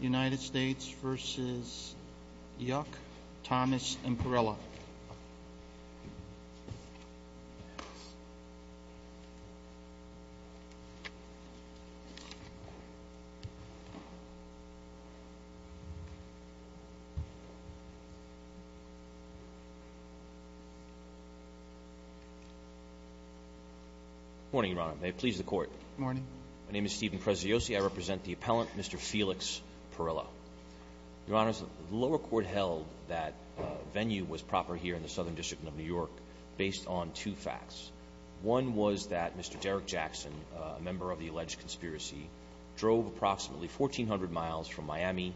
United States v. Yuck, Thomas, and Perrella. Good morning, Your Honor. May it please the Court. Good morning. My name is Steven Preziosi. I represent the appellant, Mr. Felix Perrella. Your Honor, the lower court held that venue was proper here in the Southern District of New York based on two facts. One was that Mr. Derek Jackson, a member of the alleged conspiracy, drove approximately 1,400 miles from Miami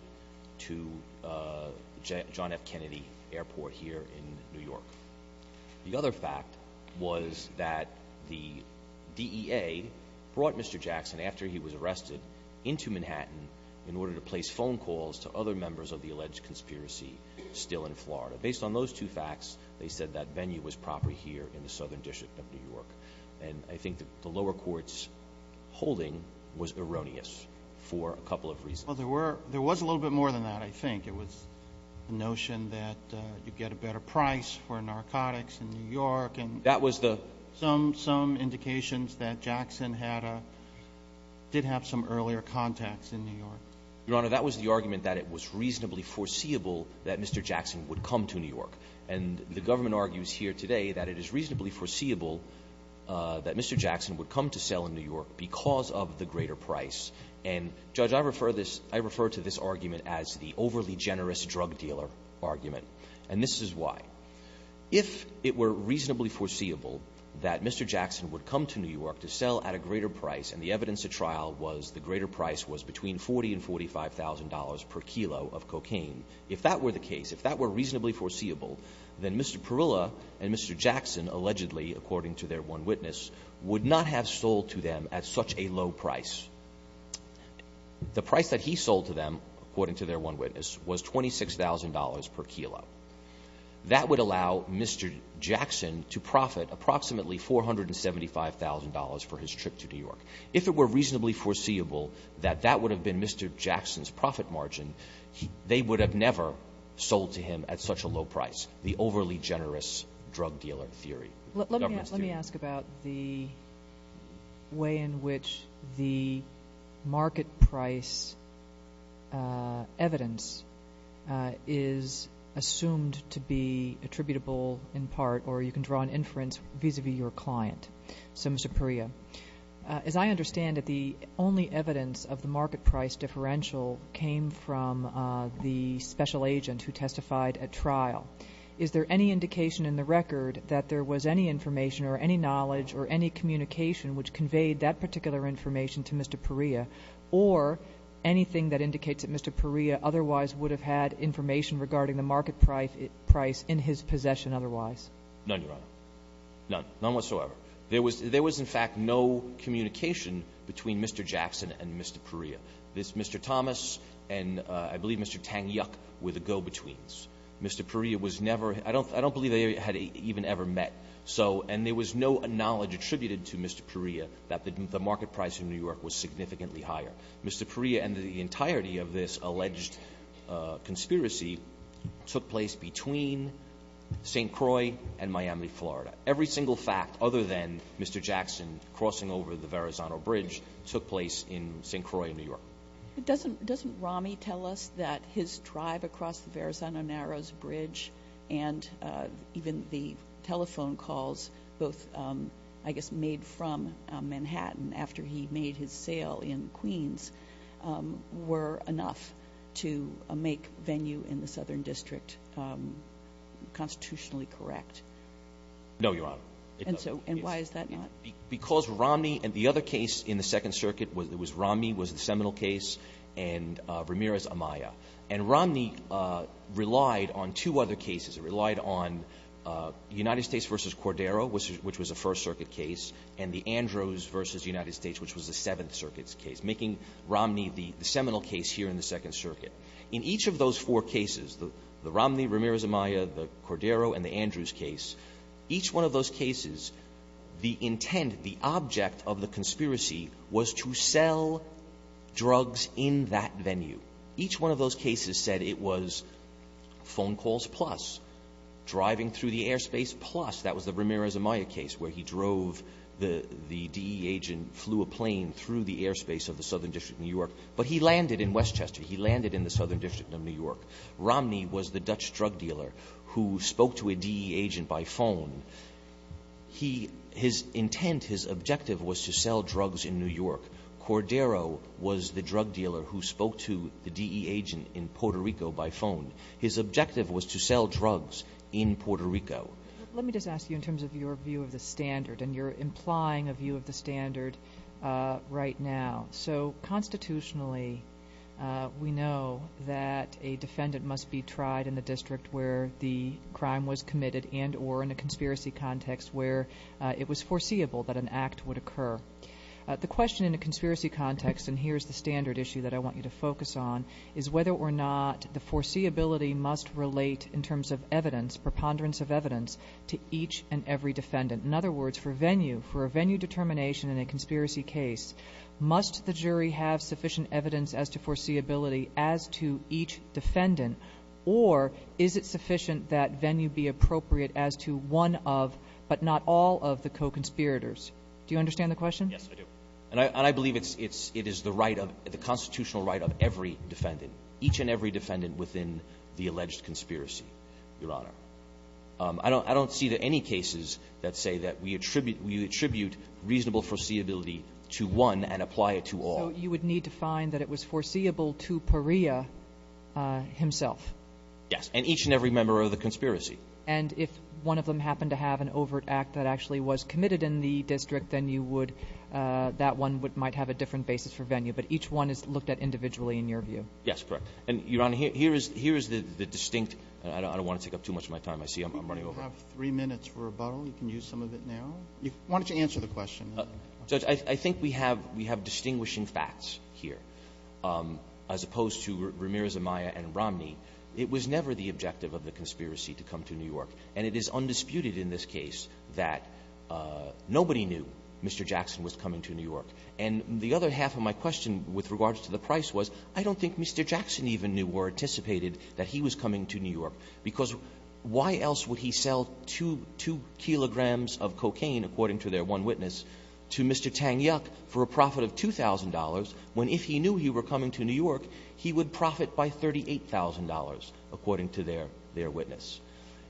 to John F. Kennedy Airport here in New York. The other fact was that the DEA brought Mr. Jackson, after he was arrested, into Manhattan in order to place phone calls to other members of the alleged conspiracy still in Florida. Based on those two facts, they said that venue was proper here in the Southern District of New York. And I think the lower court's holding was erroneous for a couple of reasons. Well, there was a little bit more than that, I think. It was the notion that you get a better price for narcotics in New York and some indications that Jackson did have some earlier contacts in New York. Your Honor, that was the argument that it was reasonably foreseeable that Mr. Jackson would come to New York. And the government argues here today that it is reasonably foreseeable that Mr. Jackson would come to sell in New York because of the greater price. And, Judge, I refer to this argument as the overly generous drug dealer argument. And this is why. If it were reasonably foreseeable that Mr. Jackson would come to New York to sell at a greater price, and the evidence at trial was the greater price was between $40,000 and $45,000 per kilo of cocaine. If that were the case, if that were reasonably foreseeable, then Mr. Perilla and Mr. Jackson allegedly, according to their one witness, would not have sold to them at such a low price. The price that he sold to them, according to their one witness, was $26,000 per kilo. That would allow Mr. Jackson to profit approximately $475,000 for his trip to New York. If it were reasonably foreseeable that that would have been Mr. Jackson's profit margin, they would have never sold to him at such a low price, the overly generous drug dealer theory. Let me ask about the way in which the market price evidence is assumed to be attributable in part, or you can draw an inference vis-a-vis your client. So, Mr. Perilla, as I understand it, the only evidence of the market price differential came from the special agent who testified at trial. Is there any indication in the record that there was any information or any knowledge or any communication which conveyed that particular information to Mr. Perilla, or anything that indicates that Mr. Perilla otherwise would have had information regarding the market price in his possession otherwise? None, Your Honor. None. None whatsoever. There was in fact no communication between Mr. Jackson and Mr. Perilla. This Mr. Thomas and I believe Mr. Tang Yuk were the go-betweens. Mr. Perilla was never – I don't believe they had even ever met. And there was no knowledge attributed to Mr. Perilla that the market price in New York was significantly higher. Mr. Perilla and the entirety of this alleged conspiracy took place between St. Croix and Miami, Florida. Every single fact other than Mr. Jackson crossing over the Verrazano Bridge took place in St. Croix, New York. Doesn't Rami tell us that his drive across the Verrazano Narrows Bridge and even the telephone calls both I guess made from Manhattan after he made his sale in Queens were enough to make venue in the Southern District constitutionally correct? No, Your Honor. And so why is that not? Because Rami and the other case in the Second Circuit was Rami was the seminal case and Ramirez-Amaya. And Rami relied on two other cases. It relied on United States v. Cordero, which was a First Circuit case, and the Andrews v. United States, which was the Seventh Circuit's case, making Rami the seminal case here in the Second Circuit. In each of those four cases, the Romney, Ramirez-Amaya, the Cordero, and the Andrews case, each one of those cases, the intent, the object of the conspiracy was to sell drugs in that venue. Each one of those cases said it was phone calls plus, driving through the airspace plus. That was the Ramirez-Amaya case where he drove the DE agent flew a plane through the airspace of the Southern District of New York. But he landed in Westchester. He landed in the Southern District of New York. Romney was the Dutch drug dealer who spoke to a DE agent by phone. His intent, his objective was to sell drugs in New York. Cordero was the drug dealer who spoke to the DE agent in Puerto Rico by phone. His objective was to sell drugs in Puerto Rico. Let me just ask you in terms of your view of the standard, and you're implying a view of the standard right now. So, constitutionally, we know that a defendant must be tried in the district where the crime was committed and or in a conspiracy context where it was foreseeable that an act would occur. The question in a conspiracy context, and here's the standard issue that I want you to focus on, is whether or not the foreseeability must relate in terms of evidence, preponderance of evidence, to each and every defendant. In other words, for venue, for a venue determination in a conspiracy case, must the jury have sufficient evidence as to foreseeability as to each defendant, or is it sufficient that venue be appropriate as to one of but not all of the co-conspirators? Do you understand the question? Yes, I do. And I believe it is the constitutional right of every defendant, each and every defendant within the alleged conspiracy, Your Honor. I don't see that any cases that say that we attribute reasonable foreseeability to one and apply it to all. So you would need to find that it was foreseeable to Perea himself? Yes, and each and every member of the conspiracy. And if one of them happened to have an overt act that actually was committed in the district, then you would – that one might have a different basis for venue, but each one is looked at individually in your view? Yes, correct. And, Your Honor, here is the distinct – I don't want to take up too much of my time. I see I'm running over. We have three minutes for rebuttal. You can use some of it now. Why don't you answer the question? Judge, I think we have distinguishing facts here. As opposed to Ramirez, Amaya, and Romney, it was never the objective of the conspiracy to come to New York. And it is undisputed in this case that nobody knew Mr. Jackson was coming to New York. And the other half of my question with regards to the price was, I don't think Mr. Jackson even knew or anticipated that he was coming to New York. Because why else would he sell two kilograms of cocaine, according to their one witness, to Mr. Tang Yuk for a profit of $2,000, when if he knew he were coming to New York, he would profit by $38,000, according to their witness.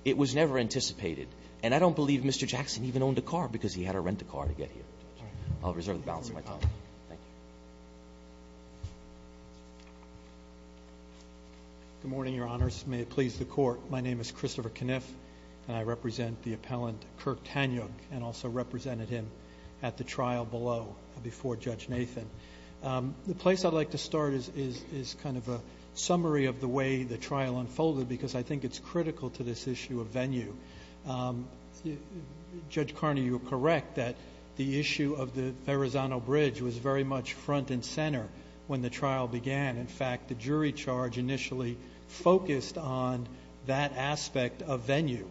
It was never anticipated. And I don't believe Mr. Jackson even owned a car because he had to rent a car to get here. I'll reserve the balance of my time. Thank you. Good morning, Your Honors. May it please the Court. My name is Christopher Kniff, and I represent the appellant, Kirk Tang Yuk, and also represented him at the trial below before Judge Nathan. The place I'd like to start is kind of a summary of the way the trial unfolded because I think it's critical to this issue of venue. Judge Carney, you are correct that the issue of the Verrazano Bridge was very much front and center when the trial began. In fact, the jury charge initially focused on that aspect of venue.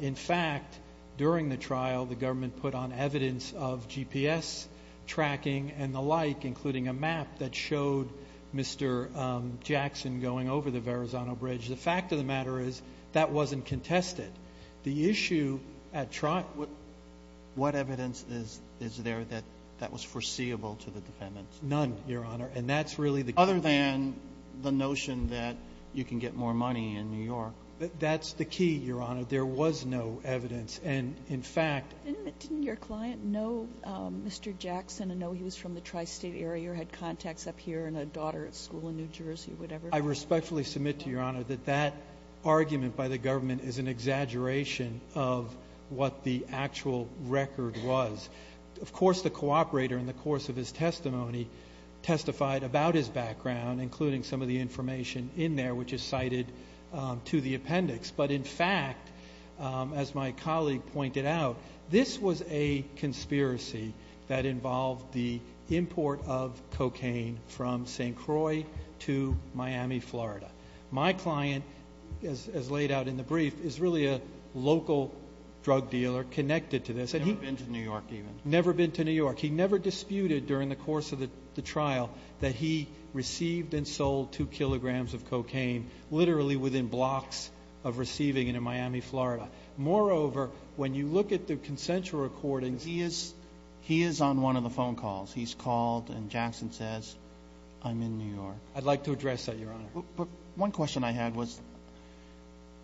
In fact, during the trial, the government put on evidence of GPS tracking and the like, including a map that showed Mr. Jackson going over the Verrazano Bridge. The fact of the matter is that wasn't contested. What evidence is there that that was foreseeable to the defendants? None, Your Honor, and that's really the key. Other than the notion that you can get more money in New York. That's the key, Your Honor. There was no evidence. Didn't your client know Mr. Jackson and know he was from the tri-state area or had contacts up here and a daughter at school in New Jersey or whatever? I respectfully submit to Your Honor that that argument by the government is an exaggeration of what the actual record was. Of course, the cooperator in the course of his testimony testified about his background, including some of the information in there, which is cited to the appendix. But, in fact, as my colleague pointed out, this was a conspiracy that involved the import of cocaine from St. Croix to Miami, Florida. My client, as laid out in the brief, is really a local drug dealer connected to this. Never been to New York, even. Never been to New York. He never disputed during the course of the trial that he received and sold two kilograms of cocaine literally within blocks of receiving it in Miami, Florida. Moreover, when you look at the consensual recordings. He is on one of the phone calls. He's called and Jackson says, I'm in New York. I'd like to address that, Your Honor. One question I had was,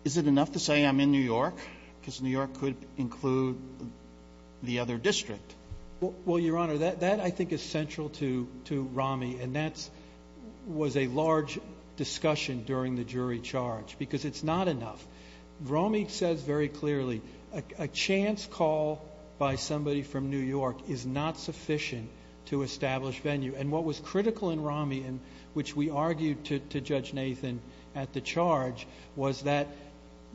is it enough to say I'm in New York because New York could include the other district? Well, Your Honor, that I think is central to Romy and that was a large discussion during the jury charge because it's not enough. Romy says very clearly, a chance call by somebody from New York is not sufficient to establish venue. And what was critical in Romy, which we argued to Judge Nathan at the charge, was that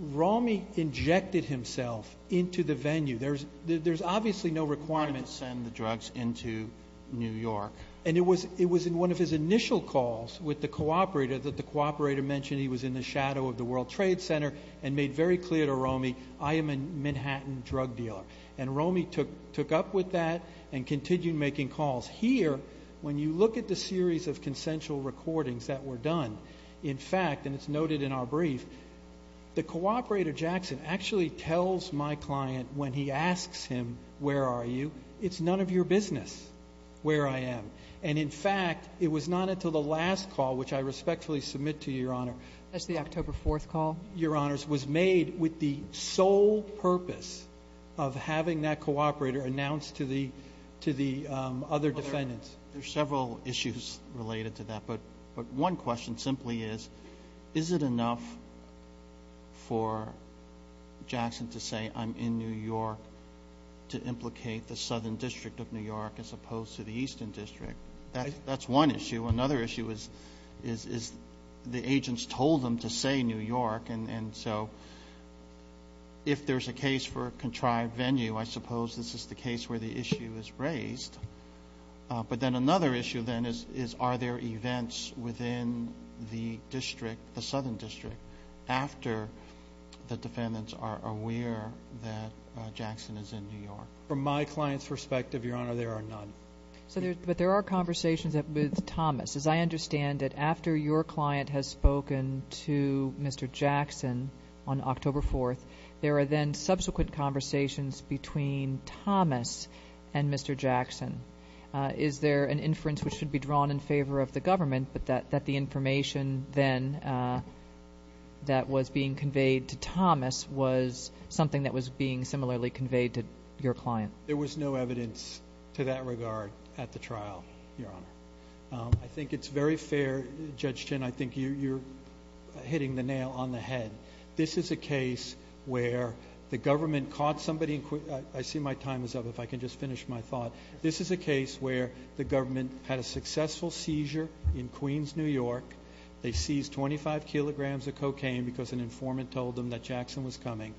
Romy injected himself into the venue. There's obviously no requirement to send the drugs into New York. And it was in one of his initial calls with the cooperator that the cooperator mentioned he was in the shadow of the World Trade Center and made very clear to Romy, I am a Manhattan drug dealer. And Romy took up with that and continued making calls. Here, when you look at the series of consensual recordings that were done, in fact, and it's noted in our brief, the cooperator Jackson actually tells my client when he asks him, where are you, it's none of your business where I am. And, in fact, it was not until the last call, which I respectfully submit to you, Your Honor. That's the October 4th call? Your Honors, was made with the sole purpose of having that cooperator announced to the other defendants. There are several issues related to that. But one question simply is, is it enough for Jackson to say I'm in New York to implicate the southern district of New York as opposed to the eastern district? That's one issue. Another issue is the agents told him to say New York. And so if there's a case for a contrived venue, I suppose this is the case where the issue is raised. But then another issue then is, are there events within the district, the southern district, after the defendants are aware that Jackson is in New York? From my client's perspective, Your Honor, there are none. But there are conversations with Thomas. As I understand it, after your client has spoken to Mr. Jackson on October 4th, there are then subsequent conversations between Thomas and Mr. Jackson. Is there an inference which should be drawn in favor of the government, but that the information then that was being conveyed to Thomas was something that was being similarly conveyed to your client? There was no evidence to that regard at the trial, Your Honor. I think it's very fair, Judge Chin, I think you're hitting the nail on the head. This is a case where the government caught somebody in court. I see my time is up. If I can just finish my thought. This is a case where the government had a successful seizure in Queens, New York. They seized 25 kilograms of cocaine because an informant told them that Jackson was coming.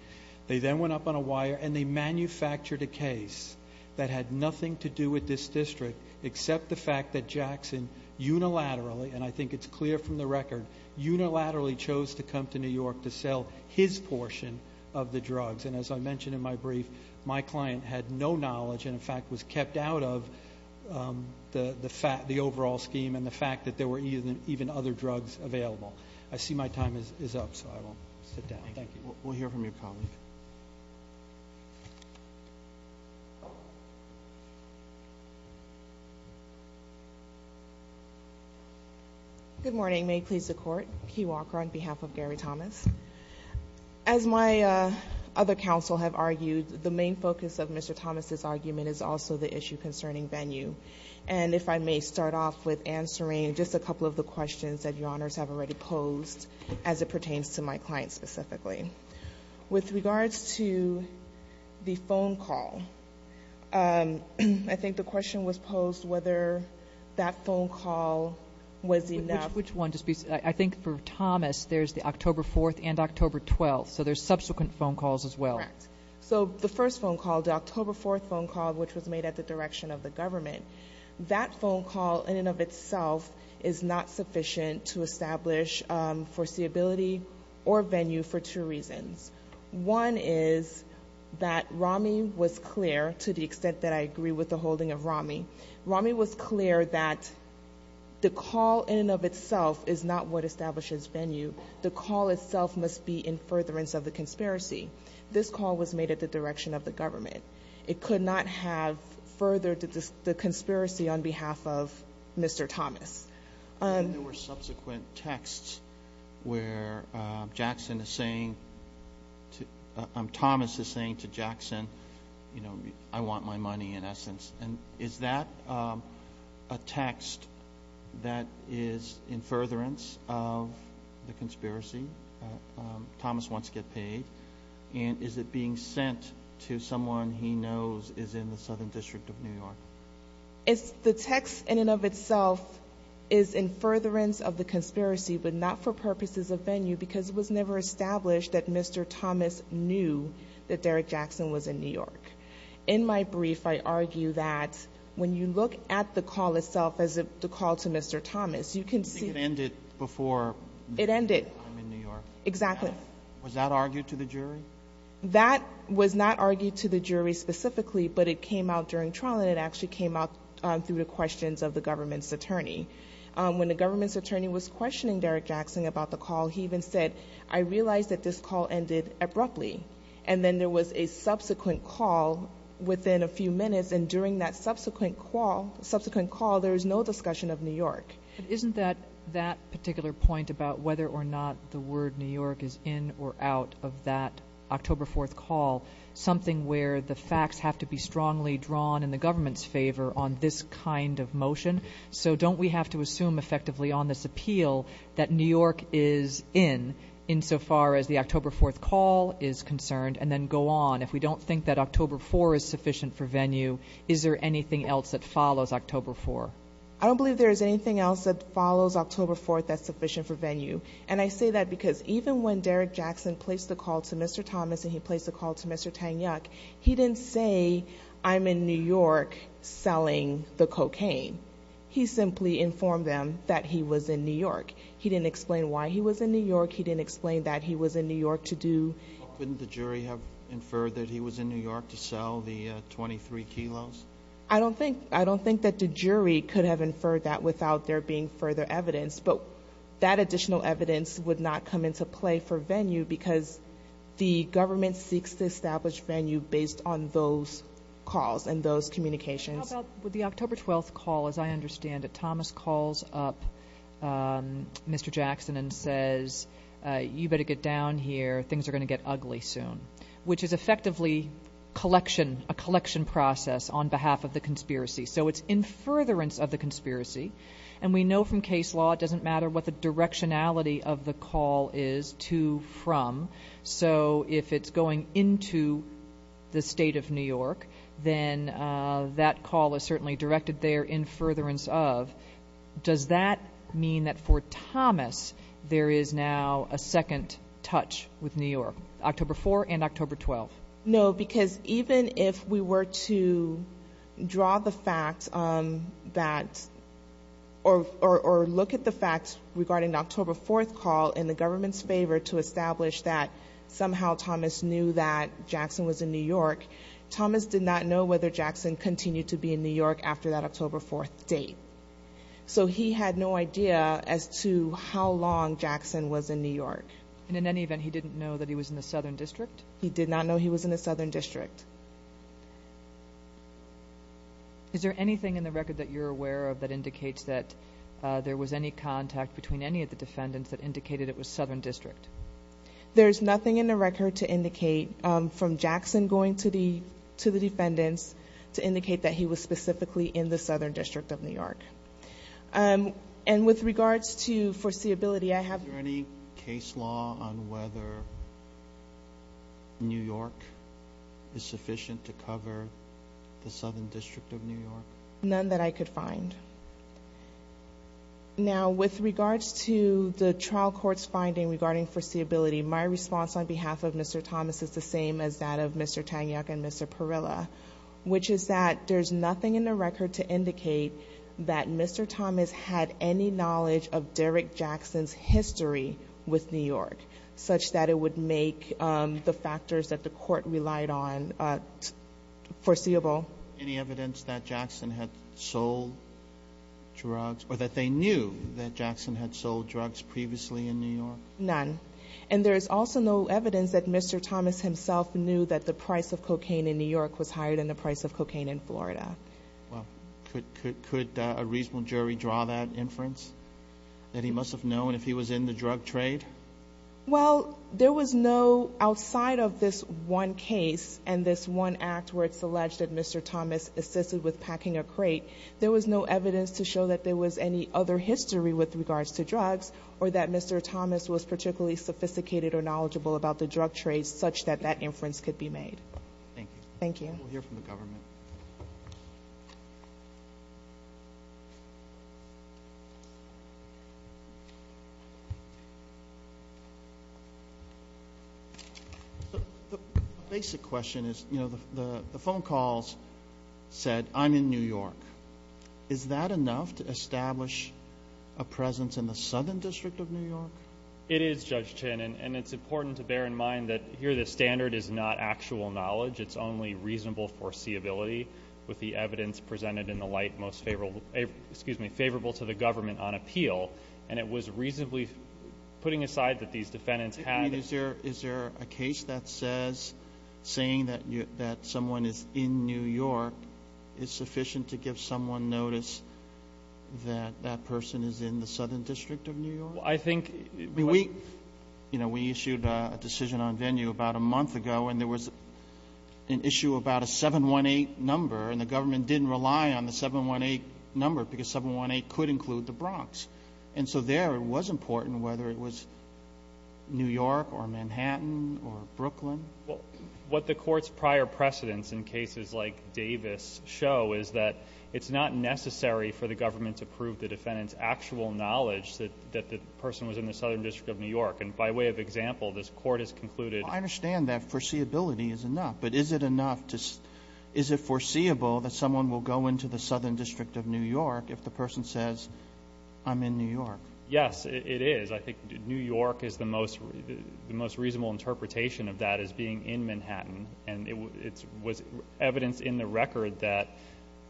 They then went up on a wire and they manufactured a case that had nothing to do with this district except the fact that Jackson unilaterally, and I think it's clear from the record, unilaterally chose to come to New York to sell his portion of the drugs. And as I mentioned in my brief, my client had no knowledge and in fact was kept out of the overall scheme and the fact that there were even other drugs available. I see my time is up, so I will sit down. Thank you. We'll hear from your colleague. Good morning. May it please the Court. Kei Walker on behalf of Gary Thomas. As my other counsel have argued, the main focus of Mr. Thomas' argument is also the issue concerning venue. And if I may start off with answering just a couple of the questions that Your Honors have already posed as it pertains to my client specifically. With regards to the phone call, I think the question was posed whether that phone call was enough. Which one? I think for Thomas, there's the October 4th and October 12th, so there's subsequent phone calls as well. Correct. So the first phone call, the October 4th phone call, which was made at the direction of the government, that phone call in and of itself is not sufficient to establish foreseeability or venue for two reasons. One is that Rami was clear, to the extent that I agree with the holding of Rami, Rami was clear that the call in and of itself is not what establishes venue. The call itself must be in furtherance of the conspiracy. This call was made at the direction of the government. It could not have furthered the conspiracy on behalf of Mr. Thomas. There were subsequent texts where Thomas is saying to Jackson, you know, I want my money, in essence. And is that a text that is in furtherance of the conspiracy? Thomas wants to get paid. And is it being sent to someone he knows is in the Southern District of New York? The text in and of itself is in furtherance of the conspiracy, but not for purposes of venue because it was never established that Mr. Thomas knew that Derrick Jackson was in New York. In my brief, I argue that when you look at the call itself as the call to Mr. Thomas, you can see it ended before I'm in New York. Exactly. Was that argued to the jury? That was not argued to the jury specifically, but it came out during trial and it actually came out through the questions of the government's attorney. When the government's attorney was questioning Derrick Jackson about the call, he even said, I realize that this call ended abruptly. And then there was a subsequent call within a few minutes, and during that subsequent call there was no discussion of New York. Isn't that particular point about whether or not the word New York is in or out of that October 4th call something where the facts have to be strongly drawn in the government's favor on this kind of motion? So don't we have to assume effectively on this appeal that New York is in, insofar as the October 4th call is concerned, and then go on? If we don't think that October 4th is sufficient for venue, is there anything else that follows October 4th? I don't believe there is anything else that follows October 4th that's sufficient for venue. And I say that because even when Derrick Jackson placed the call to Mr. Thomas and he placed the call to Mr. Tanyuk, he didn't say, I'm in New York selling the cocaine. He simply informed them that he was in New York. He didn't explain why he was in New York. He didn't explain that he was in New York to do. Couldn't the jury have inferred that he was in New York to sell the 23 kilos? I don't think that the jury could have inferred that without there being further evidence, but that additional evidence would not come into play for venue because the government seeks to establish venue based on those calls and those communications. With the October 12th call, as I understand it, Thomas calls up Mr. Jackson and says, you better get down here, things are going to get ugly soon, which is effectively a collection process on behalf of the conspiracy. And we know from case law it doesn't matter what the directionality of the call is to from. So if it's going into the state of New York, then that call is certainly directed there in furtherance of. Does that mean that for Thomas there is now a second touch with New York, October 4th and October 12th? No, because even if we were to draw the facts that or look at the facts regarding October 4th call in the government's favor to establish that somehow Thomas knew that Jackson was in New York, Thomas did not know whether Jackson continued to be in New York after that October 4th date. So he had no idea as to how long Jackson was in New York. And in any event, he didn't know that he was in the southern district? He did not know he was in the southern district. Is there anything in the record that you're aware of that indicates that there was any contact between any of the defendants that indicated it was southern district? There is nothing in the record to indicate from Jackson going to the defendants to indicate that he was specifically in the southern district of New York. And with regards to foreseeability, I have... Is there any case law on whether New York is sufficient to cover the southern district of New York? None that I could find. Now, with regards to the trial court's finding regarding foreseeability, my response on behalf of Mr. Thomas is the same as that of Mr. Tangyuck and Mr. Parilla, which is that there's nothing in the record to indicate that Mr. Thomas had any knowledge of Derek Jackson's history with New York such that it would make the factors that the court relied on foreseeable. Any evidence that Jackson had sold drugs or that they knew that Jackson had sold drugs previously in New York? None. And there is also no evidence that Mr. Thomas himself knew that the price of cocaine in New York was higher than the price of cocaine in Florida. Well, could a reasonable jury draw that inference that he must have known if he was in the drug trade? Well, there was no... Outside of this one case and this one act where it's alleged that Mr. Thomas assisted with packing a crate, there was no evidence to show that there was any other history with regards to drugs or that Mr. Thomas was particularly sophisticated or knowledgeable about the drug trade such that that inference could be made. Thank you. Thank you. We'll hear from the government. The basic question is, you know, the phone calls said, I'm in New York. Is that enough to establish a presence in the Southern District of New York? It is, Judge Chin, and it's important to bear in mind that here the standard is not actual knowledge. It's only reasonable foreseeability with the evidence presented in the light most favorable to the government on appeal, and it was reasonably putting aside that these defendants had... Did someone notice that that person is in the Southern District of New York? I think... We issued a decision on venue about a month ago, and there was an issue about a 718 number, and the government didn't rely on the 718 number because 718 could include the Bronx. And so there it was important whether it was New York or Manhattan or Brooklyn. What the court's prior precedents in cases like Davis show is that it's not necessary for the government to prove the defendant's actual knowledge that the person was in the Southern District of New York. And by way of example, this court has concluded... I understand that foreseeability is enough, but is it enough to... Is it foreseeable that someone will go into the Southern District of New York if the person says, I'm in New York? Yes, it is. I think New York is the most reasonable interpretation of that as being in Manhattan, and it was evidence in the record that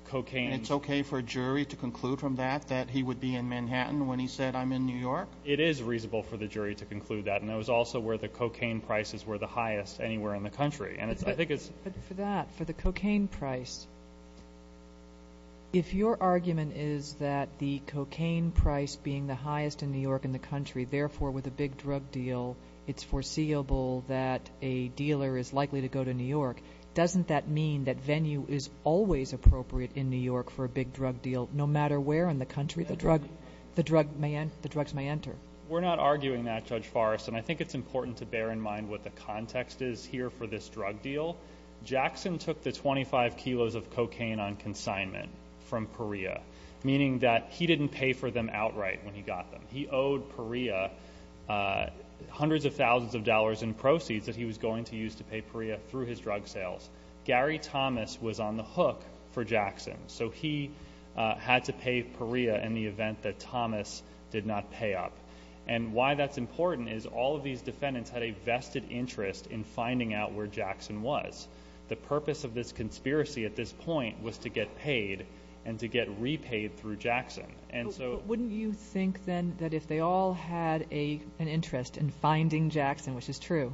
cocaine... And it's okay for a jury to conclude from that that he would be in Manhattan when he said, I'm in New York? It is reasonable for the jury to conclude that, and it was also where the cocaine prices were the highest anywhere in the country, and I think it's... But for that, for the cocaine price, if your argument is that the cocaine price being the highest in New York in the country, therefore, with a big drug deal, it's foreseeable that a dealer is likely to go to New York, doesn't that mean that venue is always appropriate in New York for a big drug deal, no matter where in the country the drugs may enter? We're not arguing that, Judge Forrest, and I think it's important to bear in mind what the context is here for this drug deal. Jackson took the 25 kilos of cocaine on consignment from Perea, meaning that he didn't pay for them outright when he got them. He owed Perea hundreds of thousands of dollars in proceeds that he was going to use to pay Perea through his drug sales. Gary Thomas was on the hook for Jackson, so he had to pay Perea in the event that Thomas did not pay up. And why that's important is all of these defendants had a vested interest in finding out where Jackson was. The purpose of this conspiracy at this point was to get paid and to get repaid through Jackson, and so... But wouldn't you think then that if they all had an interest in finding Jackson, which is true,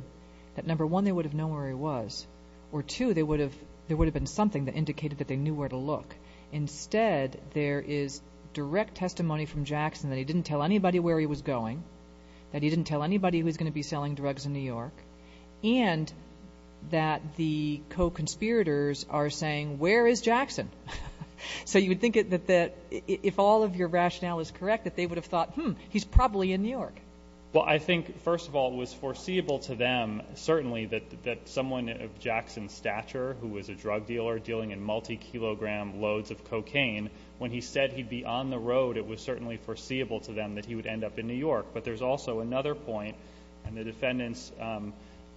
that number one, they would have known where he was, or two, there would have been something that indicated that they knew where to look. Instead, there is direct testimony from Jackson that he didn't tell anybody where he was going, that he didn't tell anybody who was going to be selling drugs in New York, and that the co-conspirators are saying, where is Jackson? So you would think that if all of your rationale is correct, that they would have thought, hmm, he's probably in New York. Well, I think, first of all, it was foreseeable to them, certainly, that someone of Jackson's stature, who was a drug dealer dealing in multi-kilogram loads of cocaine, when he said he'd be on the road, it was certainly foreseeable to them that he would end up in New York. But there's also another point, and the defendants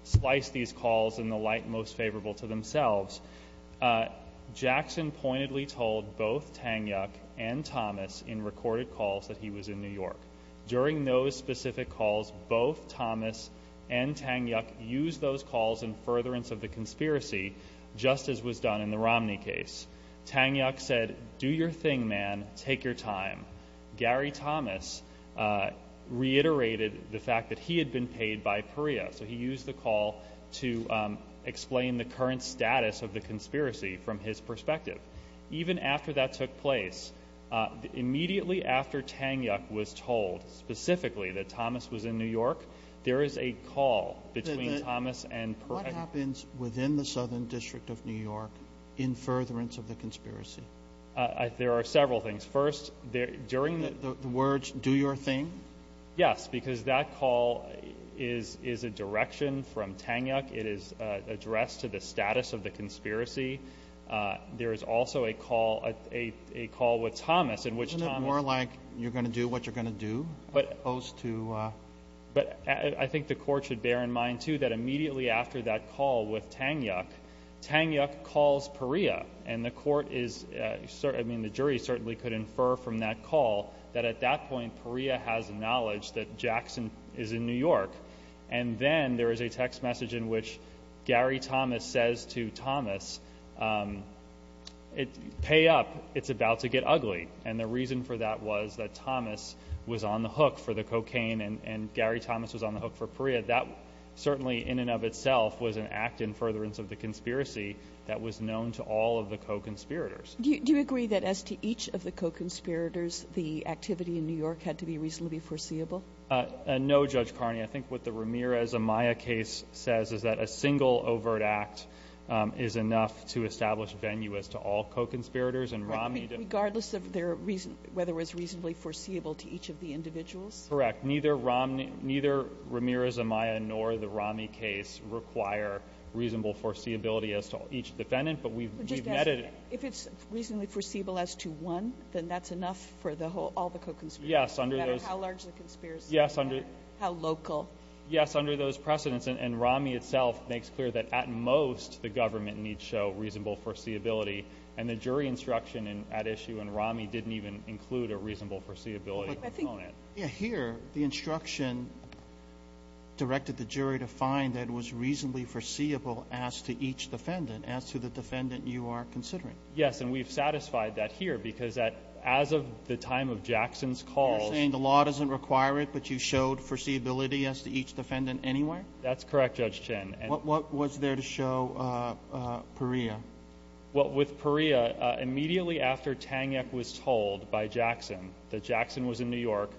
spliced these calls in the light most favorable to themselves. Jackson pointedly told both Tanyuk and Thomas in recorded calls that he was in New York. During those specific calls, both Thomas and Tanyuk used those calls in furtherance of the conspiracy, just as was done in the Romney case. Tanyuk said, do your thing, man, take your time. Gary Thomas reiterated the fact that he had been paid by Perea, so he used the call to explain the current status of the conspiracy from his perspective. Even after that took place, immediately after Tanyuk was told specifically that Thomas was in New York, there is a call between Thomas and Perea. What happens within the Southern District of New York in furtherance of the conspiracy? There are several things. First, during the... The words, do your thing? Yes, because that call is a direction from Tanyuk. It is addressed to the status of the conspiracy. There is also a call with Thomas in which Thomas... Isn't it more like you're going to do what you're going to do as opposed to... But I think the Court should bear in mind too that immediately after that call with Tanyuk, Tanyuk calls Perea, and the Court is... I mean, the jury certainly could infer from that call that at that point, Perea has knowledge that Jackson is in New York. And then there is a text message in which Gary Thomas says to Thomas, pay up, it's about to get ugly. And the reason for that was that Thomas was on the hook for the cocaine and Gary Thomas was on the hook for Perea. That certainly in and of itself was an act in furtherance of the conspiracy that was known to all of the co-conspirators. Do you agree that as to each of the co-conspirators, the activity in New York had to be reasonably foreseeable? No, Judge Carney. I think what the Ramirez-Amaya case says is that a single overt act is enough to establish venue as to all co-conspirators and Romney... Regardless of whether it was reasonably foreseeable to each of the individuals? Correct. Neither Ramirez-Amaya nor the Romney case require reasonable foreseeability as to each defendant, but we've netted it. If it's reasonably foreseeable as to one, then that's enough for all the co-conspirators, no matter how large the conspiracy, how local. Yes, under those precedents. And Romney itself makes clear that at most the government needs to show reasonable foreseeability, and the jury instruction at issue in Romney didn't even include a reasonable foreseeability component. Here, the instruction directed the jury to find that it was reasonably foreseeable as to each defendant, as to the defendant you are considering. Yes, and we've satisfied that here because as of the time of Jackson's call, you're saying the law doesn't require it, but you showed foreseeability as to each defendant anyway? That's correct, Judge Chin. What was there to show Perea? Well, with Perea, immediately after Tanyuk was told by Jackson that Jackson was in New York,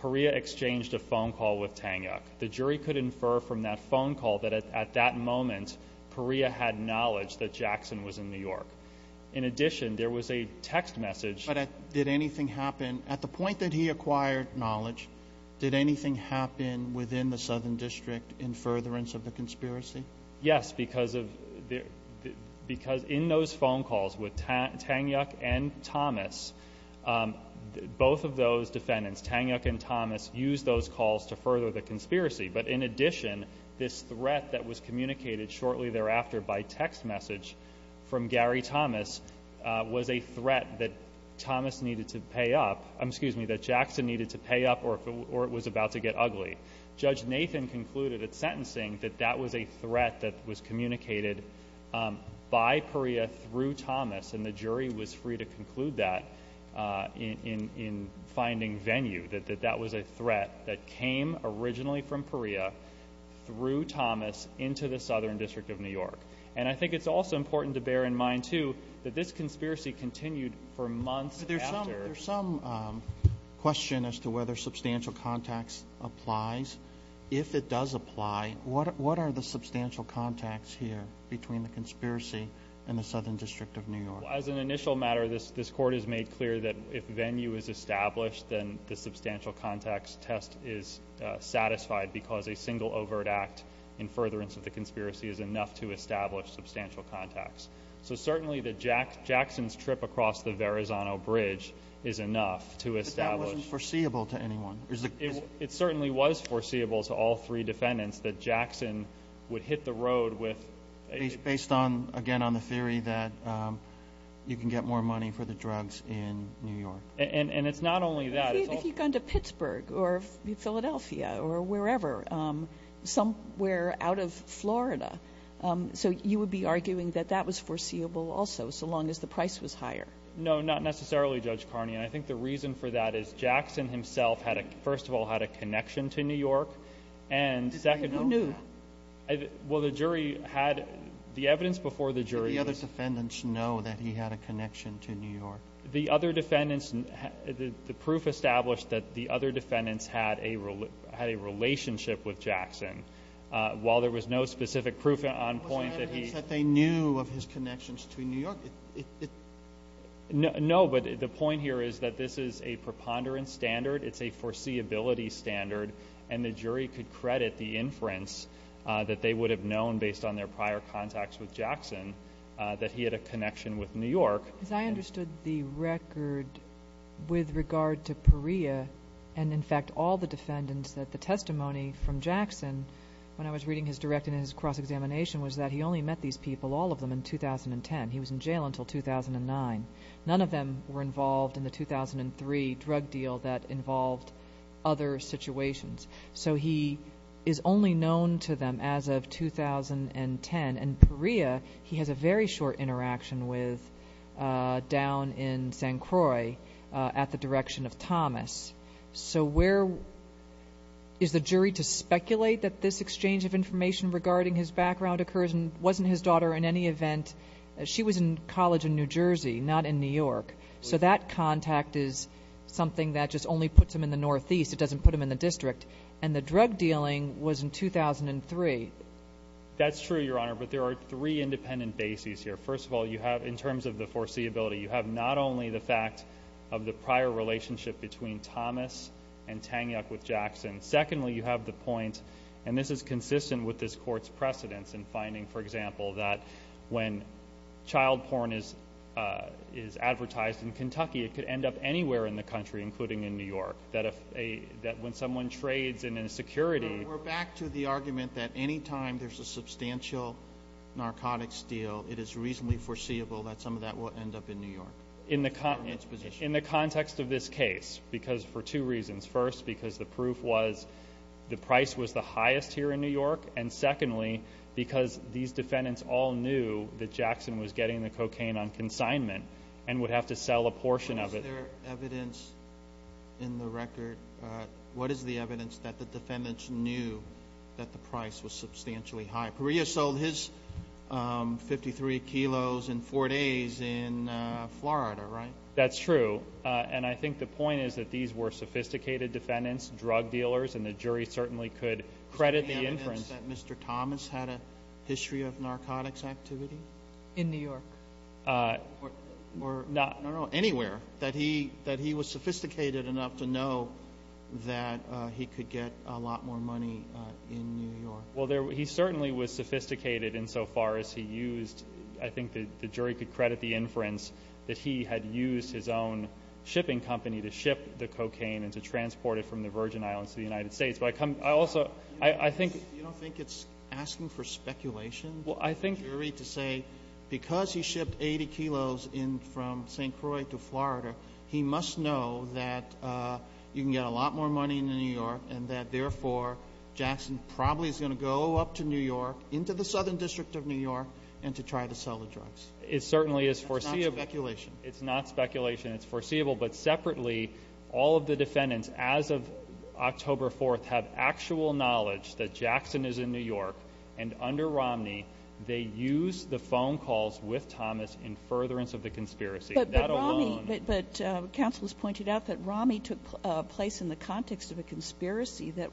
Perea exchanged a phone call with Tanyuk. The jury could infer from that phone call that at that moment, Perea had knowledge that Jackson was in New York. In addition, there was a text message. But did anything happen? At the point that he acquired knowledge, did anything happen within the Southern District in furtherance of the conspiracy? Yes, because in those phone calls with Tanyuk and Thomas, both of those defendants, Tanyuk and Thomas, used those calls to further the conspiracy. But in addition, this threat that was communicated shortly thereafter by text message from Gary Thomas was a threat that Thomas needed to pay up, excuse me, that Jackson needed to pay up or it was about to get ugly. Judge Nathan concluded at sentencing that that was a threat that was communicated by Perea through Thomas, and the jury was free to conclude that in finding venue, that that was a threat that came originally from Perea through Thomas into the Southern District of New York. And I think it's also important to bear in mind, too, that this conspiracy continued for months after. There's some question as to whether substantial contacts applies. If it does apply, what are the substantial contacts here between the conspiracy and the Southern District of New York? As an initial matter, this Court has made clear that if venue is established, then the substantial contacts test is satisfied because a single overt act in furtherance of the conspiracy is enough to establish substantial contacts. So certainly Jackson's trip across the Verrazano Bridge is enough to establish. But that wasn't foreseeable to anyone. It certainly was foreseeable to all three defendants that Jackson would hit the road with a— Based, again, on the theory that you can get more money for the drugs in New York. And it's not only that. If you've gone to Pittsburgh or Philadelphia or wherever, somewhere out of Florida. So you would be arguing that that was foreseeable also, so long as the price was higher. No, not necessarily, Judge Carney. And I think the reason for that is Jackson himself, first of all, had a connection to New York. And second— Who knew? Well, the jury had—the evidence before the jury— Did the other defendants know that he had a connection to New York? The other defendants— The proof established that the other defendants had a relationship with Jackson. While there was no specific proof on point that he— Was there evidence that they knew of his connections to New York? No, but the point here is that this is a preponderance standard. It's a foreseeability standard. And the jury could credit the inference that they would have known based on their prior contacts with Jackson that he had a connection with New York. Because I understood the record with regard to Perea and, in fact, all the defendants that the testimony from Jackson, when I was reading his direct and his cross-examination, was that he only met these people, all of them, in 2010. He was in jail until 2009. None of them were involved in the 2003 drug deal that involved other situations. So he is only known to them as of 2010. And Perea, he has a very short interaction with down in St. Croix at the direction of Thomas. So where is the jury to speculate that this exchange of information regarding his background occurs? And wasn't his daughter, in any event— She was in college in New Jersey, not in New York. So that contact is something that just only puts him in the Northeast. It doesn't put him in the district. And the drug dealing was in 2003. That's true, Your Honor, but there are three independent bases here. First of all, you have, in terms of the foreseeability, you have not only the fact of the prior relationship between Thomas and Tangyuck with Jackson. Secondly, you have the point, and this is consistent with this Court's precedence, in finding, for example, that when child porn is advertised in Kentucky, it could end up anywhere in the country, including in New York, that when someone trades in a security— We're back to the argument that any time there's a substantial narcotics deal, it is reasonably foreseeable that some of that will end up in New York. In the context of this case, because for two reasons. First, because the proof was the price was the highest here in New York. And secondly, because these defendants all knew that Jackson was getting the cocaine on consignment and would have to sell a portion of it. Is there evidence in the record? What is the evidence that the defendants knew that the price was substantially high? Perea sold his 53 kilos in four days in Florida, right? That's true, and I think the point is that these were sophisticated defendants, drug dealers, and the jury certainly could credit the inference. Is there evidence that Mr. Thomas had a history of narcotics activity? In New York? Or anywhere, that he was sophisticated enough to know that he could get a lot more money in New York? Well, he certainly was sophisticated insofar as he used— I think the jury could credit the inference that he had used his own shipping company to ship the cocaine and to transport it from the Virgin Islands to the United States. But I also—I think— You don't think it's asking for speculation? Well, I think— The jury to say because he shipped 80 kilos in from St. Croix to Florida, he must know that you can get a lot more money in New York and that therefore Jackson probably is going to go up to New York, into the Southern District of New York, and to try to sell the drugs. It certainly is foreseeable. It's not speculation. It's not speculation. It's foreseeable. But separately, all of the defendants as of October 4th have actual knowledge that Jackson is in New York and under Romney, they used the phone calls with Thomas in furtherance of the conspiracy. But Romney— That alone— But counsel has pointed out that Romney took place in the context of a conspiracy that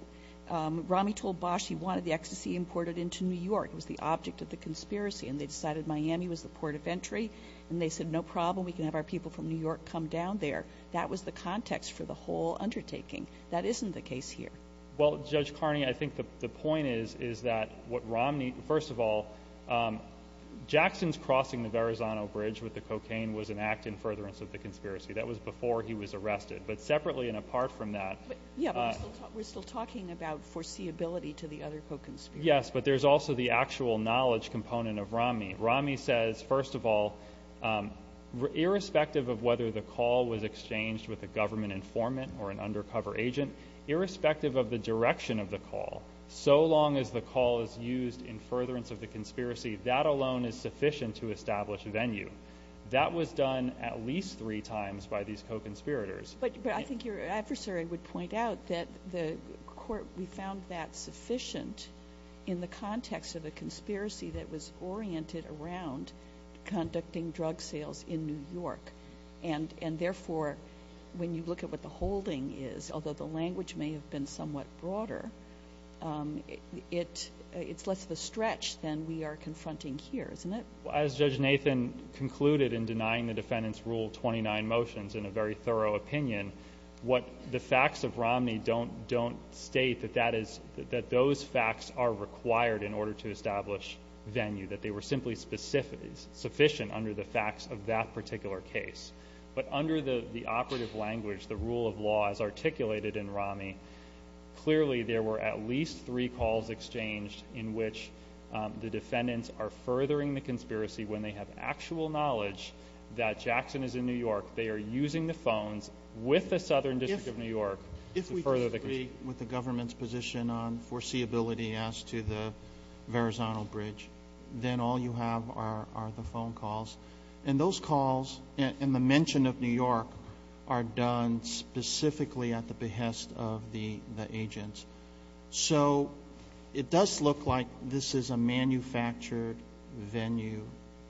Romney told Bosch he wanted the ecstasy imported into New York. It was the object of the conspiracy, and they decided Miami was the port of entry. And they said, no problem. We can have our people from New York come down there. That was the context for the whole undertaking. That isn't the case here. Well, Judge Carney, I think the point is that what Romney—first of all, Jackson's crossing the Verrazano Bridge with the cocaine was an act in furtherance of the conspiracy. That was before he was arrested. But separately and apart from that— Yeah, but we're still talking about foreseeability to the other co-conspirators. Yes, but there's also the actual knowledge component of Romney. Romney says, first of all, irrespective of whether the call was exchanged with a government informant or an undercover agent, irrespective of the direction of the call, so long as the call is used in furtherance of the conspiracy, that alone is sufficient to establish venue. That was done at least three times by these co-conspirators. But I think your adversary would point out that the court—we found that sufficient in the context of a conspiracy that was oriented around conducting drug sales in New York. And therefore, when you look at what the holding is, although the language may have been somewhat broader, it's less of a stretch than we are confronting here, isn't it? As Judge Nathan concluded in denying the defendants Rule 29 motions in a very thorough opinion, the facts of Romney don't state that those facts are required in order to establish venue, that they were simply sufficient under the facts of that particular case. But under the operative language, the rule of law as articulated in Romney, clearly there were at least three calls exchanged in which the defendants are furthering the conspiracy when they have actual knowledge that Jackson is in New York. They are using the phones with the Southern District of New York to further the conspiracy. With the government's position on foreseeability as to the Verrazano Bridge, then all you have are the phone calls. And those calls and the mention of New York are done specifically at the behest of the agents. So it does look like this is a manufactured venue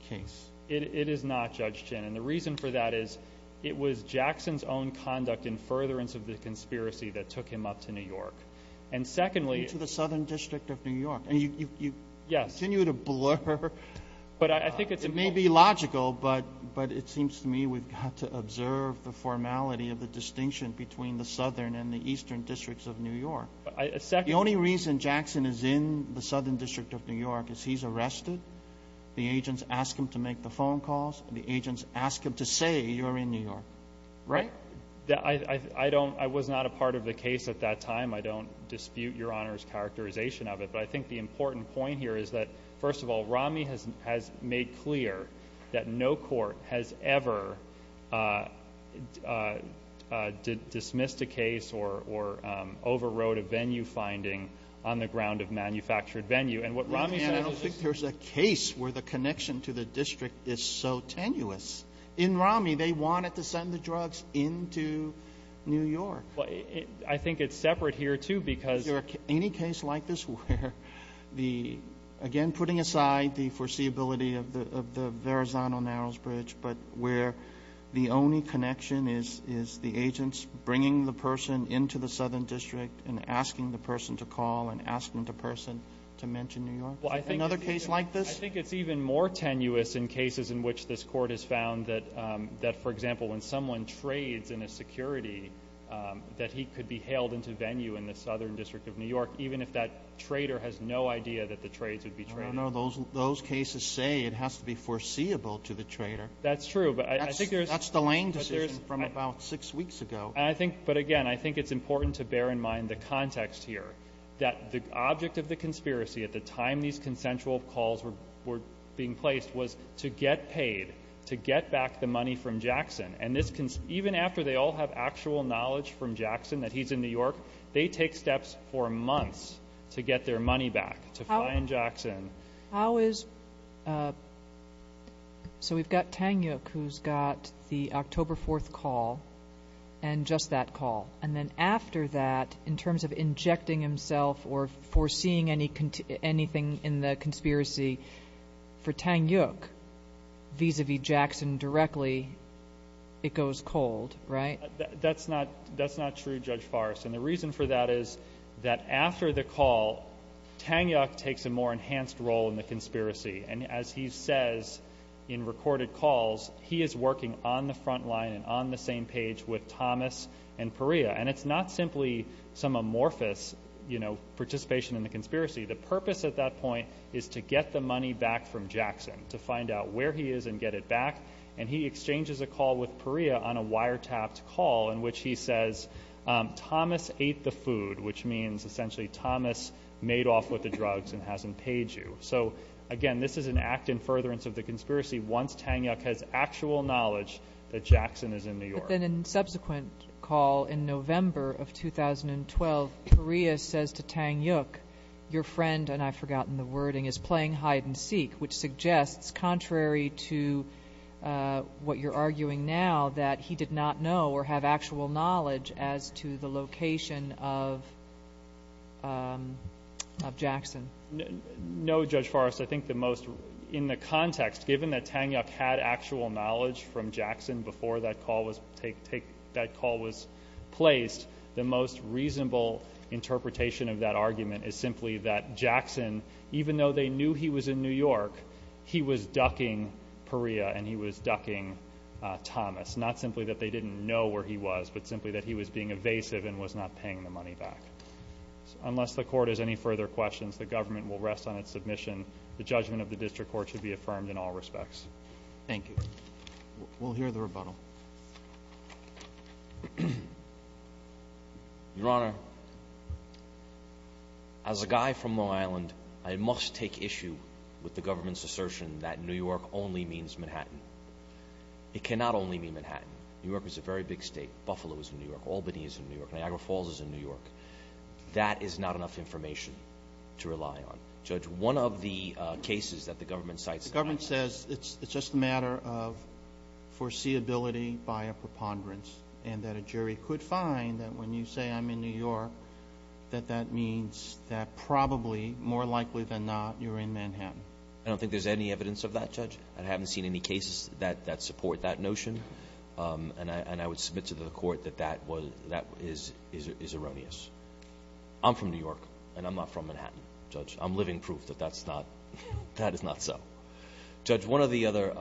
case. It is not, Judge Chen, and the reason for that is it was Jackson's own conduct in furtherance of the conspiracy that took him up to New York. And secondly to the Southern District of New York. And you continue to blur. It may be logical, but it seems to me we've got to observe the formality of the distinction between the Southern and the Eastern Districts of New York. The only reason Jackson is in the Southern District of New York is he's arrested. The agents ask him to make the phone calls. The agents ask him to say you're in New York. Right? I was not a part of the case at that time. I don't dispute Your Honor's characterization of it. But I think the important point here is that, first of all, Rami has made clear that no court has ever dismissed a case or overrode a venue finding on the ground of manufactured venue. I don't think there's a case where the connection to the district is so tenuous. In Rami, they wanted to send the drugs into New York. I think it's separate here too because Is there any case like this where, again, putting aside the foreseeability of the Verrazano-Narrows Bridge, but where the only connection is the agents bringing the person into the Southern District and asking the person to call and asking the person to mention New York? Another case like this? I think it's even more tenuous in cases in which this court has found that, for example, when someone trades in a security, that he could be hailed into venue in the Southern District of New York even if that trader has no idea that the trades would be traded. I don't know. Those cases say it has to be foreseeable to the trader. That's true. That's the Lane decision from about six weeks ago. But, again, I think it's important to bear in mind the context here, that the object of the conspiracy at the time these consensual calls were being placed was to get paid, to get back the money from Jackson. And even after they all have actual knowledge from Jackson that he's in New York, they take steps for months to get their money back, to find Jackson. So we've got Tang Yuk who's got the October 4th call and just that call. And then after that, in terms of injecting himself or foreseeing anything in the conspiracy for Tang Yuk vis-à-vis Jackson directly, it goes cold, right? That's not true, Judge Farris. And the reason for that is that after the call, Tang Yuk takes a more enhanced role in the conspiracy. And as he says in recorded calls, he is working on the front line and on the same page with Thomas and Perea. And it's not simply some amorphous participation in the conspiracy. The purpose at that point is to get the money back from Jackson, to find out where he is and get it back. And he exchanges a call with Perea on a wiretapped call in which he says, Thomas ate the food, which means essentially Thomas made off with the drugs and hasn't paid you. So, again, this is an act in furtherance of the conspiracy once Tang Yuk has actual knowledge that Jackson is in New York. But then in subsequent call in November of 2012, Perea says to Tang Yuk, your friend, and I've forgotten the wording, is playing hide-and-seek, which suggests, contrary to what you're arguing now, that he did not know or have actual knowledge as to the location of Jackson. No, Judge Forrest. I think the most in the context, given that Tang Yuk had actual knowledge from Jackson before that call was placed, the most reasonable interpretation of that argument is simply that Jackson, even though they knew he was in New York, he was ducking Perea and he was ducking Thomas, not simply that they didn't know where he was, but simply that he was being evasive and was not paying the money back. Unless the court has any further questions, the government will rest on its submission. The judgment of the district court should be affirmed in all respects. Thank you. We'll hear the rebuttal. Your Honor, as a guy from Long Island, I must take issue with the government's assertion that New York only means Manhattan. It cannot only mean Manhattan. New York is a very big state. Buffalo is in New York. Albany is in New York. Niagara Falls is in New York. That is not enough information to rely on. Judge, one of the cases that the government cites in Manhattan. The government says it's just a matter of foreseeability by a preponderance and that a jury could find that when you say I'm in New York, that that means that probably, more likely than not, you're in Manhattan. I don't think there's any evidence of that, Judge. I haven't seen any cases that support that notion, and I would submit to the court that that is erroneous. I'm from New York, and I'm not from Manhattan, Judge. I'm living proof that that is not so. Judge, one of the other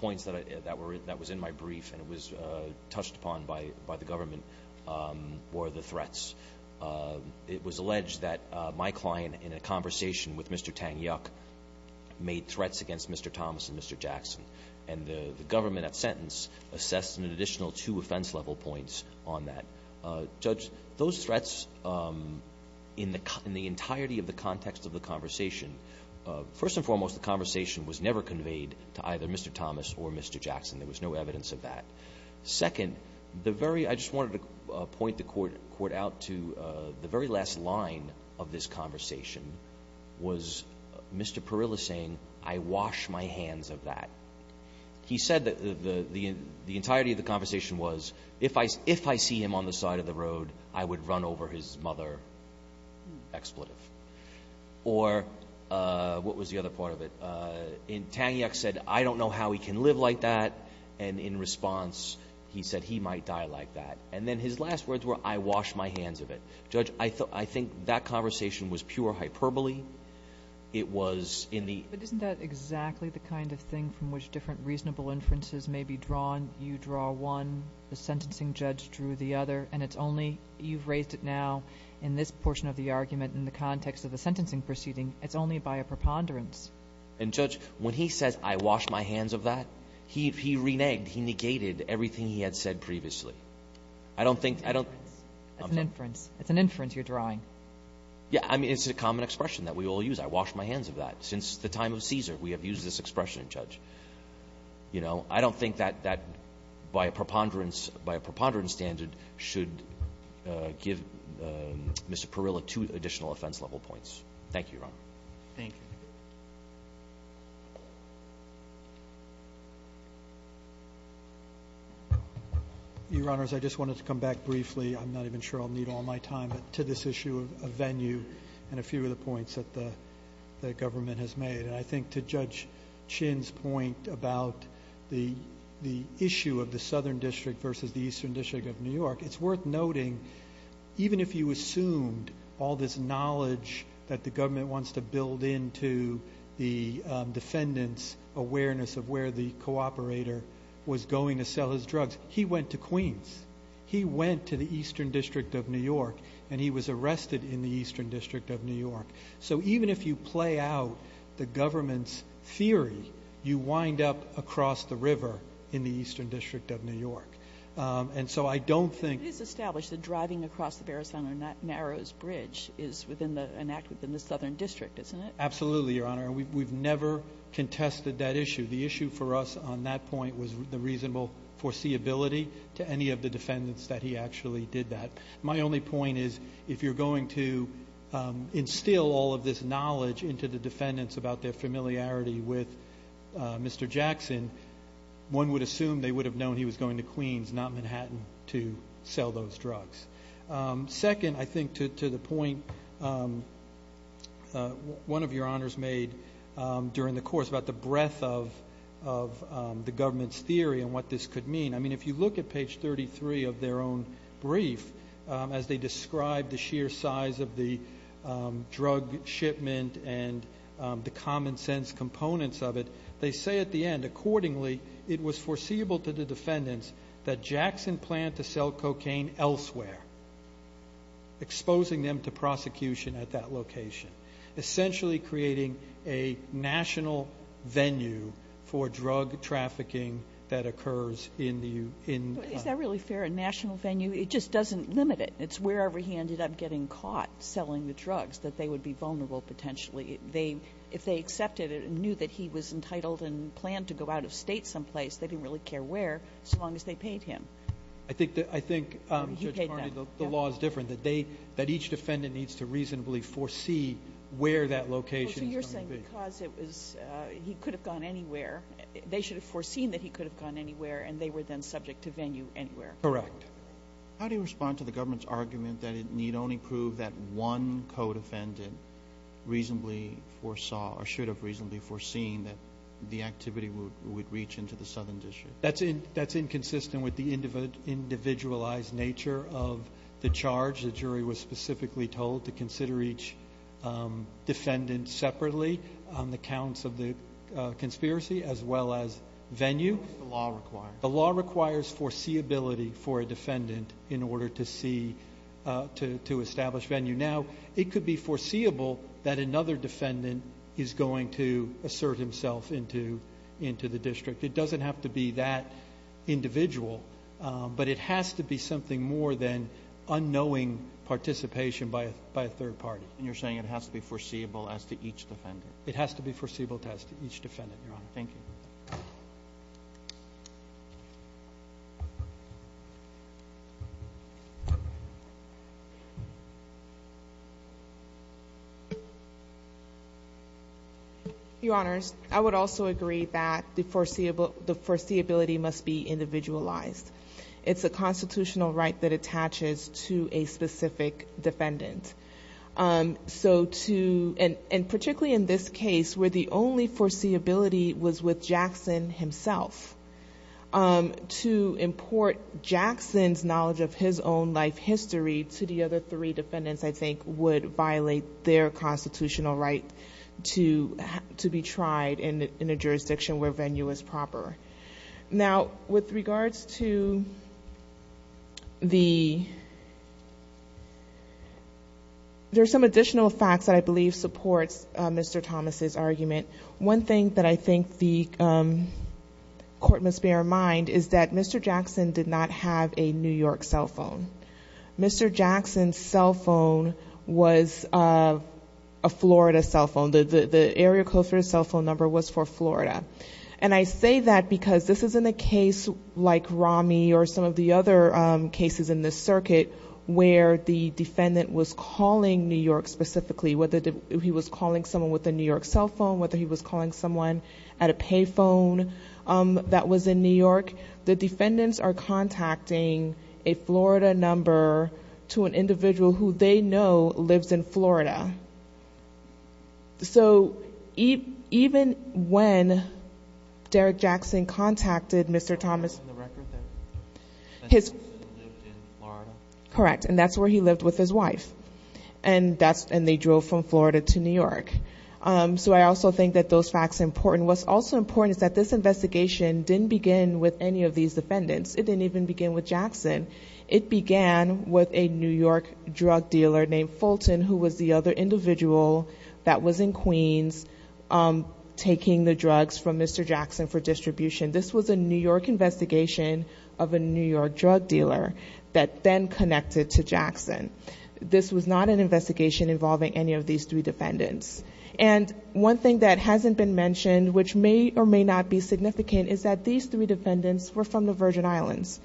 points that was in my brief and was touched upon by the government were the threats. It was alleged that my client in a conversation with Mr. Tang Yuk made threats against Mr. Thomas and Mr. Jackson, and the government at sentence assessed an additional two offense-level points on that. Judge, those threats in the entirety of the context of the conversation, first and foremost, the conversation was never conveyed to either Mr. Thomas or Mr. Jackson. There was no evidence of that. Second, I just wanted to point the court out to the very last line of this conversation was Mr. Parilla saying, I wash my hands of that. He said that the entirety of the conversation was, if I see him on the side of the road, I would run over his mother expletive. Or what was the other part of it? Tang Yuk said, I don't know how he can live like that. And in response, he said, he might die like that. And then his last words were, I wash my hands of it. Judge, I think that conversation was pure hyperbole. It was in the ‑‑ But isn't that exactly the kind of thing from which different reasonable inferences may be drawn? You draw one, the sentencing judge drew the other, and it's only ‑‑ you've raised it now in this portion of the argument in the context of the sentencing proceeding. It's only by a preponderance. And, Judge, when he says, I wash my hands of that, he reneged. He negated everything he had said previously. I don't think ‑‑ It's an inference. It's an inference you're drawing. Yeah, I mean, it's a common expression that we all use. I wash my hands of that. Since the time of Caesar, we have used this expression, Judge. You know, I don't think that by a preponderance standard should give Mr. Parilla two additional offense level points. Thank you, Your Honor. Thank you. Your Honors, I just wanted to come back briefly, I'm not even sure I'll need all my time, to this issue of venue and a few of the points that the government has made. And I think to Judge Chinn's point about the issue of the Southern District versus the Eastern District of New York, it's worth noting, even if you assumed all this knowledge that the government wants to build into the defendant's awareness of where the cooperator was going to sell his drugs, he went to Queens. He went to the Eastern District of New York, and he was arrested in the Eastern District of New York. So even if you play out the government's theory, you wind up across the river in the Eastern District of New York. And so I don't think ‑‑ But it is established that driving across the Barrisono Narrows Bridge is an act within the Southern District, isn't it? Absolutely, Your Honor. We've never contested that issue. The issue for us on that point was the reasonable foreseeability to any of the defendants that he actually did that. My only point is if you're going to instill all of this knowledge into the defendants about their familiarity with Mr. Jackson, one would assume they would have known he was going to Queens, not Manhattan, to sell those drugs. Second, I think to the point one of your honors made during the course about the breadth of the government's theory and what this could mean, I mean, if you look at page 33 of their own brief, as they describe the sheer size of the drug shipment and the common sense components of it, they say at the end, accordingly, it was foreseeable to the defendants that Jackson planned to sell cocaine elsewhere, exposing them to prosecution at that location, essentially creating a national venue for drug trafficking that occurs in the ‑‑ Is that really fair? A national venue? It just doesn't limit it. It's wherever he ended up getting caught selling the drugs that they would be vulnerable potentially. If they accepted it and knew that he was entitled and planned to go out of state someplace, they didn't really care where so long as they paid him. I think, Judge Carney, the law is different, that each defendant needs to reasonably foresee where that location is going to be. So you're saying because he could have gone anywhere, they should have foreseen that he could have gone anywhere and they were then subject to venue anywhere. Correct. How do you respond to the government's argument that it need only prove that one co‑defendant reasonably foresaw or should have reasonably foreseen that the activity would reach into the Southern District? That's inconsistent with the individualized nature of the charge. The jury was specifically told to consider each defendant separately on the counts of the conspiracy as well as venue. The law requires. for a defendant in order to establish venue. Now, it could be foreseeable that another defendant is going to assert himself into the district. It doesn't have to be that individual, but it has to be something more than unknowing participation by a third party. And you're saying it has to be foreseeable as to each defendant? It has to be foreseeable as to each defendant, Your Honor. Thank you. Your Honor, I would also agree that the foreseeability must be individualized. It's a constitutional right that attaches to a specific defendant. And particularly in this case where the only foreseeability was with Jackson himself, to import Jackson's knowledge of his own life history to the other three defendants, I think, would violate their constitutional right to be tried in a jurisdiction where venue is proper. Now, with regards to the ‑‑ there are some additional facts that I believe support Mr. Thomas' argument. One thing that I think the court must bear in mind is that Mr. Jackson did not have a New York cell phone. Mr. Jackson's cell phone was a Florida cell phone. The area code for his cell phone number was for Florida. And I say that because this isn't a case like Ramy or some of the other cases in this circuit where the defendant was calling New York specifically. Whether he was calling someone with a New York cell phone, whether he was calling someone at a pay phone that was in New York, the defendants are contacting a Florida number to an individual who they know lives in Florida. So even when Derek Jackson contacted Mr. Thomas ‑‑ The record that says he lived in Florida? Correct. And that's where he lived with his wife. And they drove from Florida to New York. So I also think that those facts are important. What's also important is that this investigation didn't begin with any of these defendants. It didn't even begin with Jackson. It began with a New York drug dealer named Fulton who was the other individual that was in Queens taking the drugs from Mr. Jackson for distribution. This was a New York investigation of a New York drug dealer that then connected to Jackson. This was not an investigation involving any of these three defendants. And one thing that hasn't been mentioned, which may or may not be significant, is that these three defendants were from the Virgin Islands.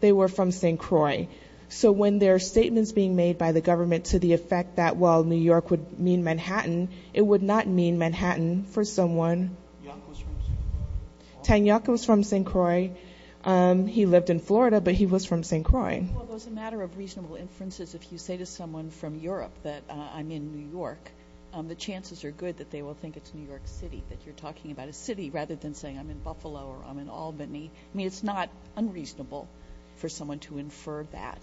They were from St. Croix. So when there are statements being made by the government to the effect that, well, New York would mean Manhattan, it would not mean Manhattan for someone. Young was from St. Croix? Tang Young was from St. Croix. He lived in Florida, but he was from St. Croix. Well, as a matter of reasonable inferences, if you say to someone from Europe that I'm in New York, the chances are good that they will think it's New York City, that you're talking about a city rather than saying I'm in Buffalo or I'm in Albany. I mean, it's not unreasonable for someone to infer that,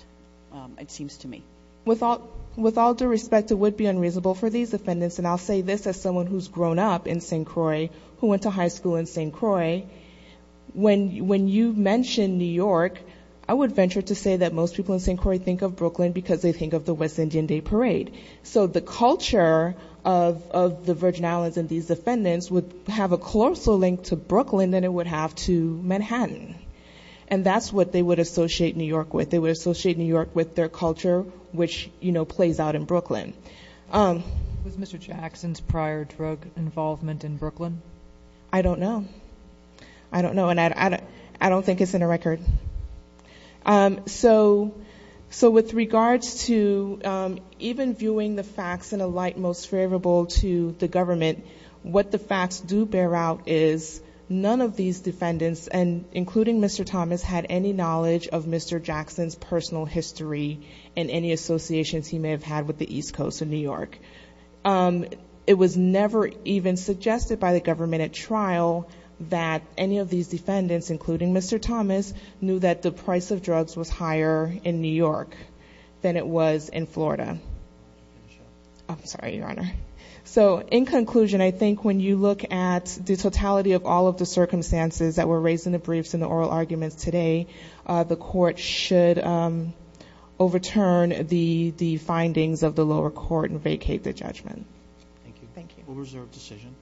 it seems to me. With all due respect, it would be unreasonable for these defendants, and I'll say this as someone who's grown up in St. Croix, who went to high school in St. Croix, when you mention New York, I would venture to say that most people in St. Croix think of Brooklyn because they think of the West Indian Day Parade. So the culture of the Virgin Islands and these defendants would have a closer link to Brooklyn than it would have to Manhattan. And that's what they would associate New York with. They would associate New York with their culture, which, you know, plays out in Brooklyn. Was Mr. Jackson's prior drug involvement in Brooklyn? I don't know. I don't know, and I don't think it's in the record. So with regards to even viewing the facts in a light most favorable to the government, what the facts do bear out is none of these defendants, including Mr. Thomas, had any knowledge of Mr. Jackson's personal history and any associations he may have had with the East Coast of New York. It was never even suggested by the government at trial that any of these defendants, including Mr. Thomas, knew that the price of drugs was higher in New York than it was in Florida. I'm sorry, Your Honor. So in conclusion, I think when you look at the totality of all of the circumstances that were raised in the briefs and the oral arguments today, the court should overturn the findings of the lower court and vacate the judgment. Thank you. Thank you. We'll reserve decision.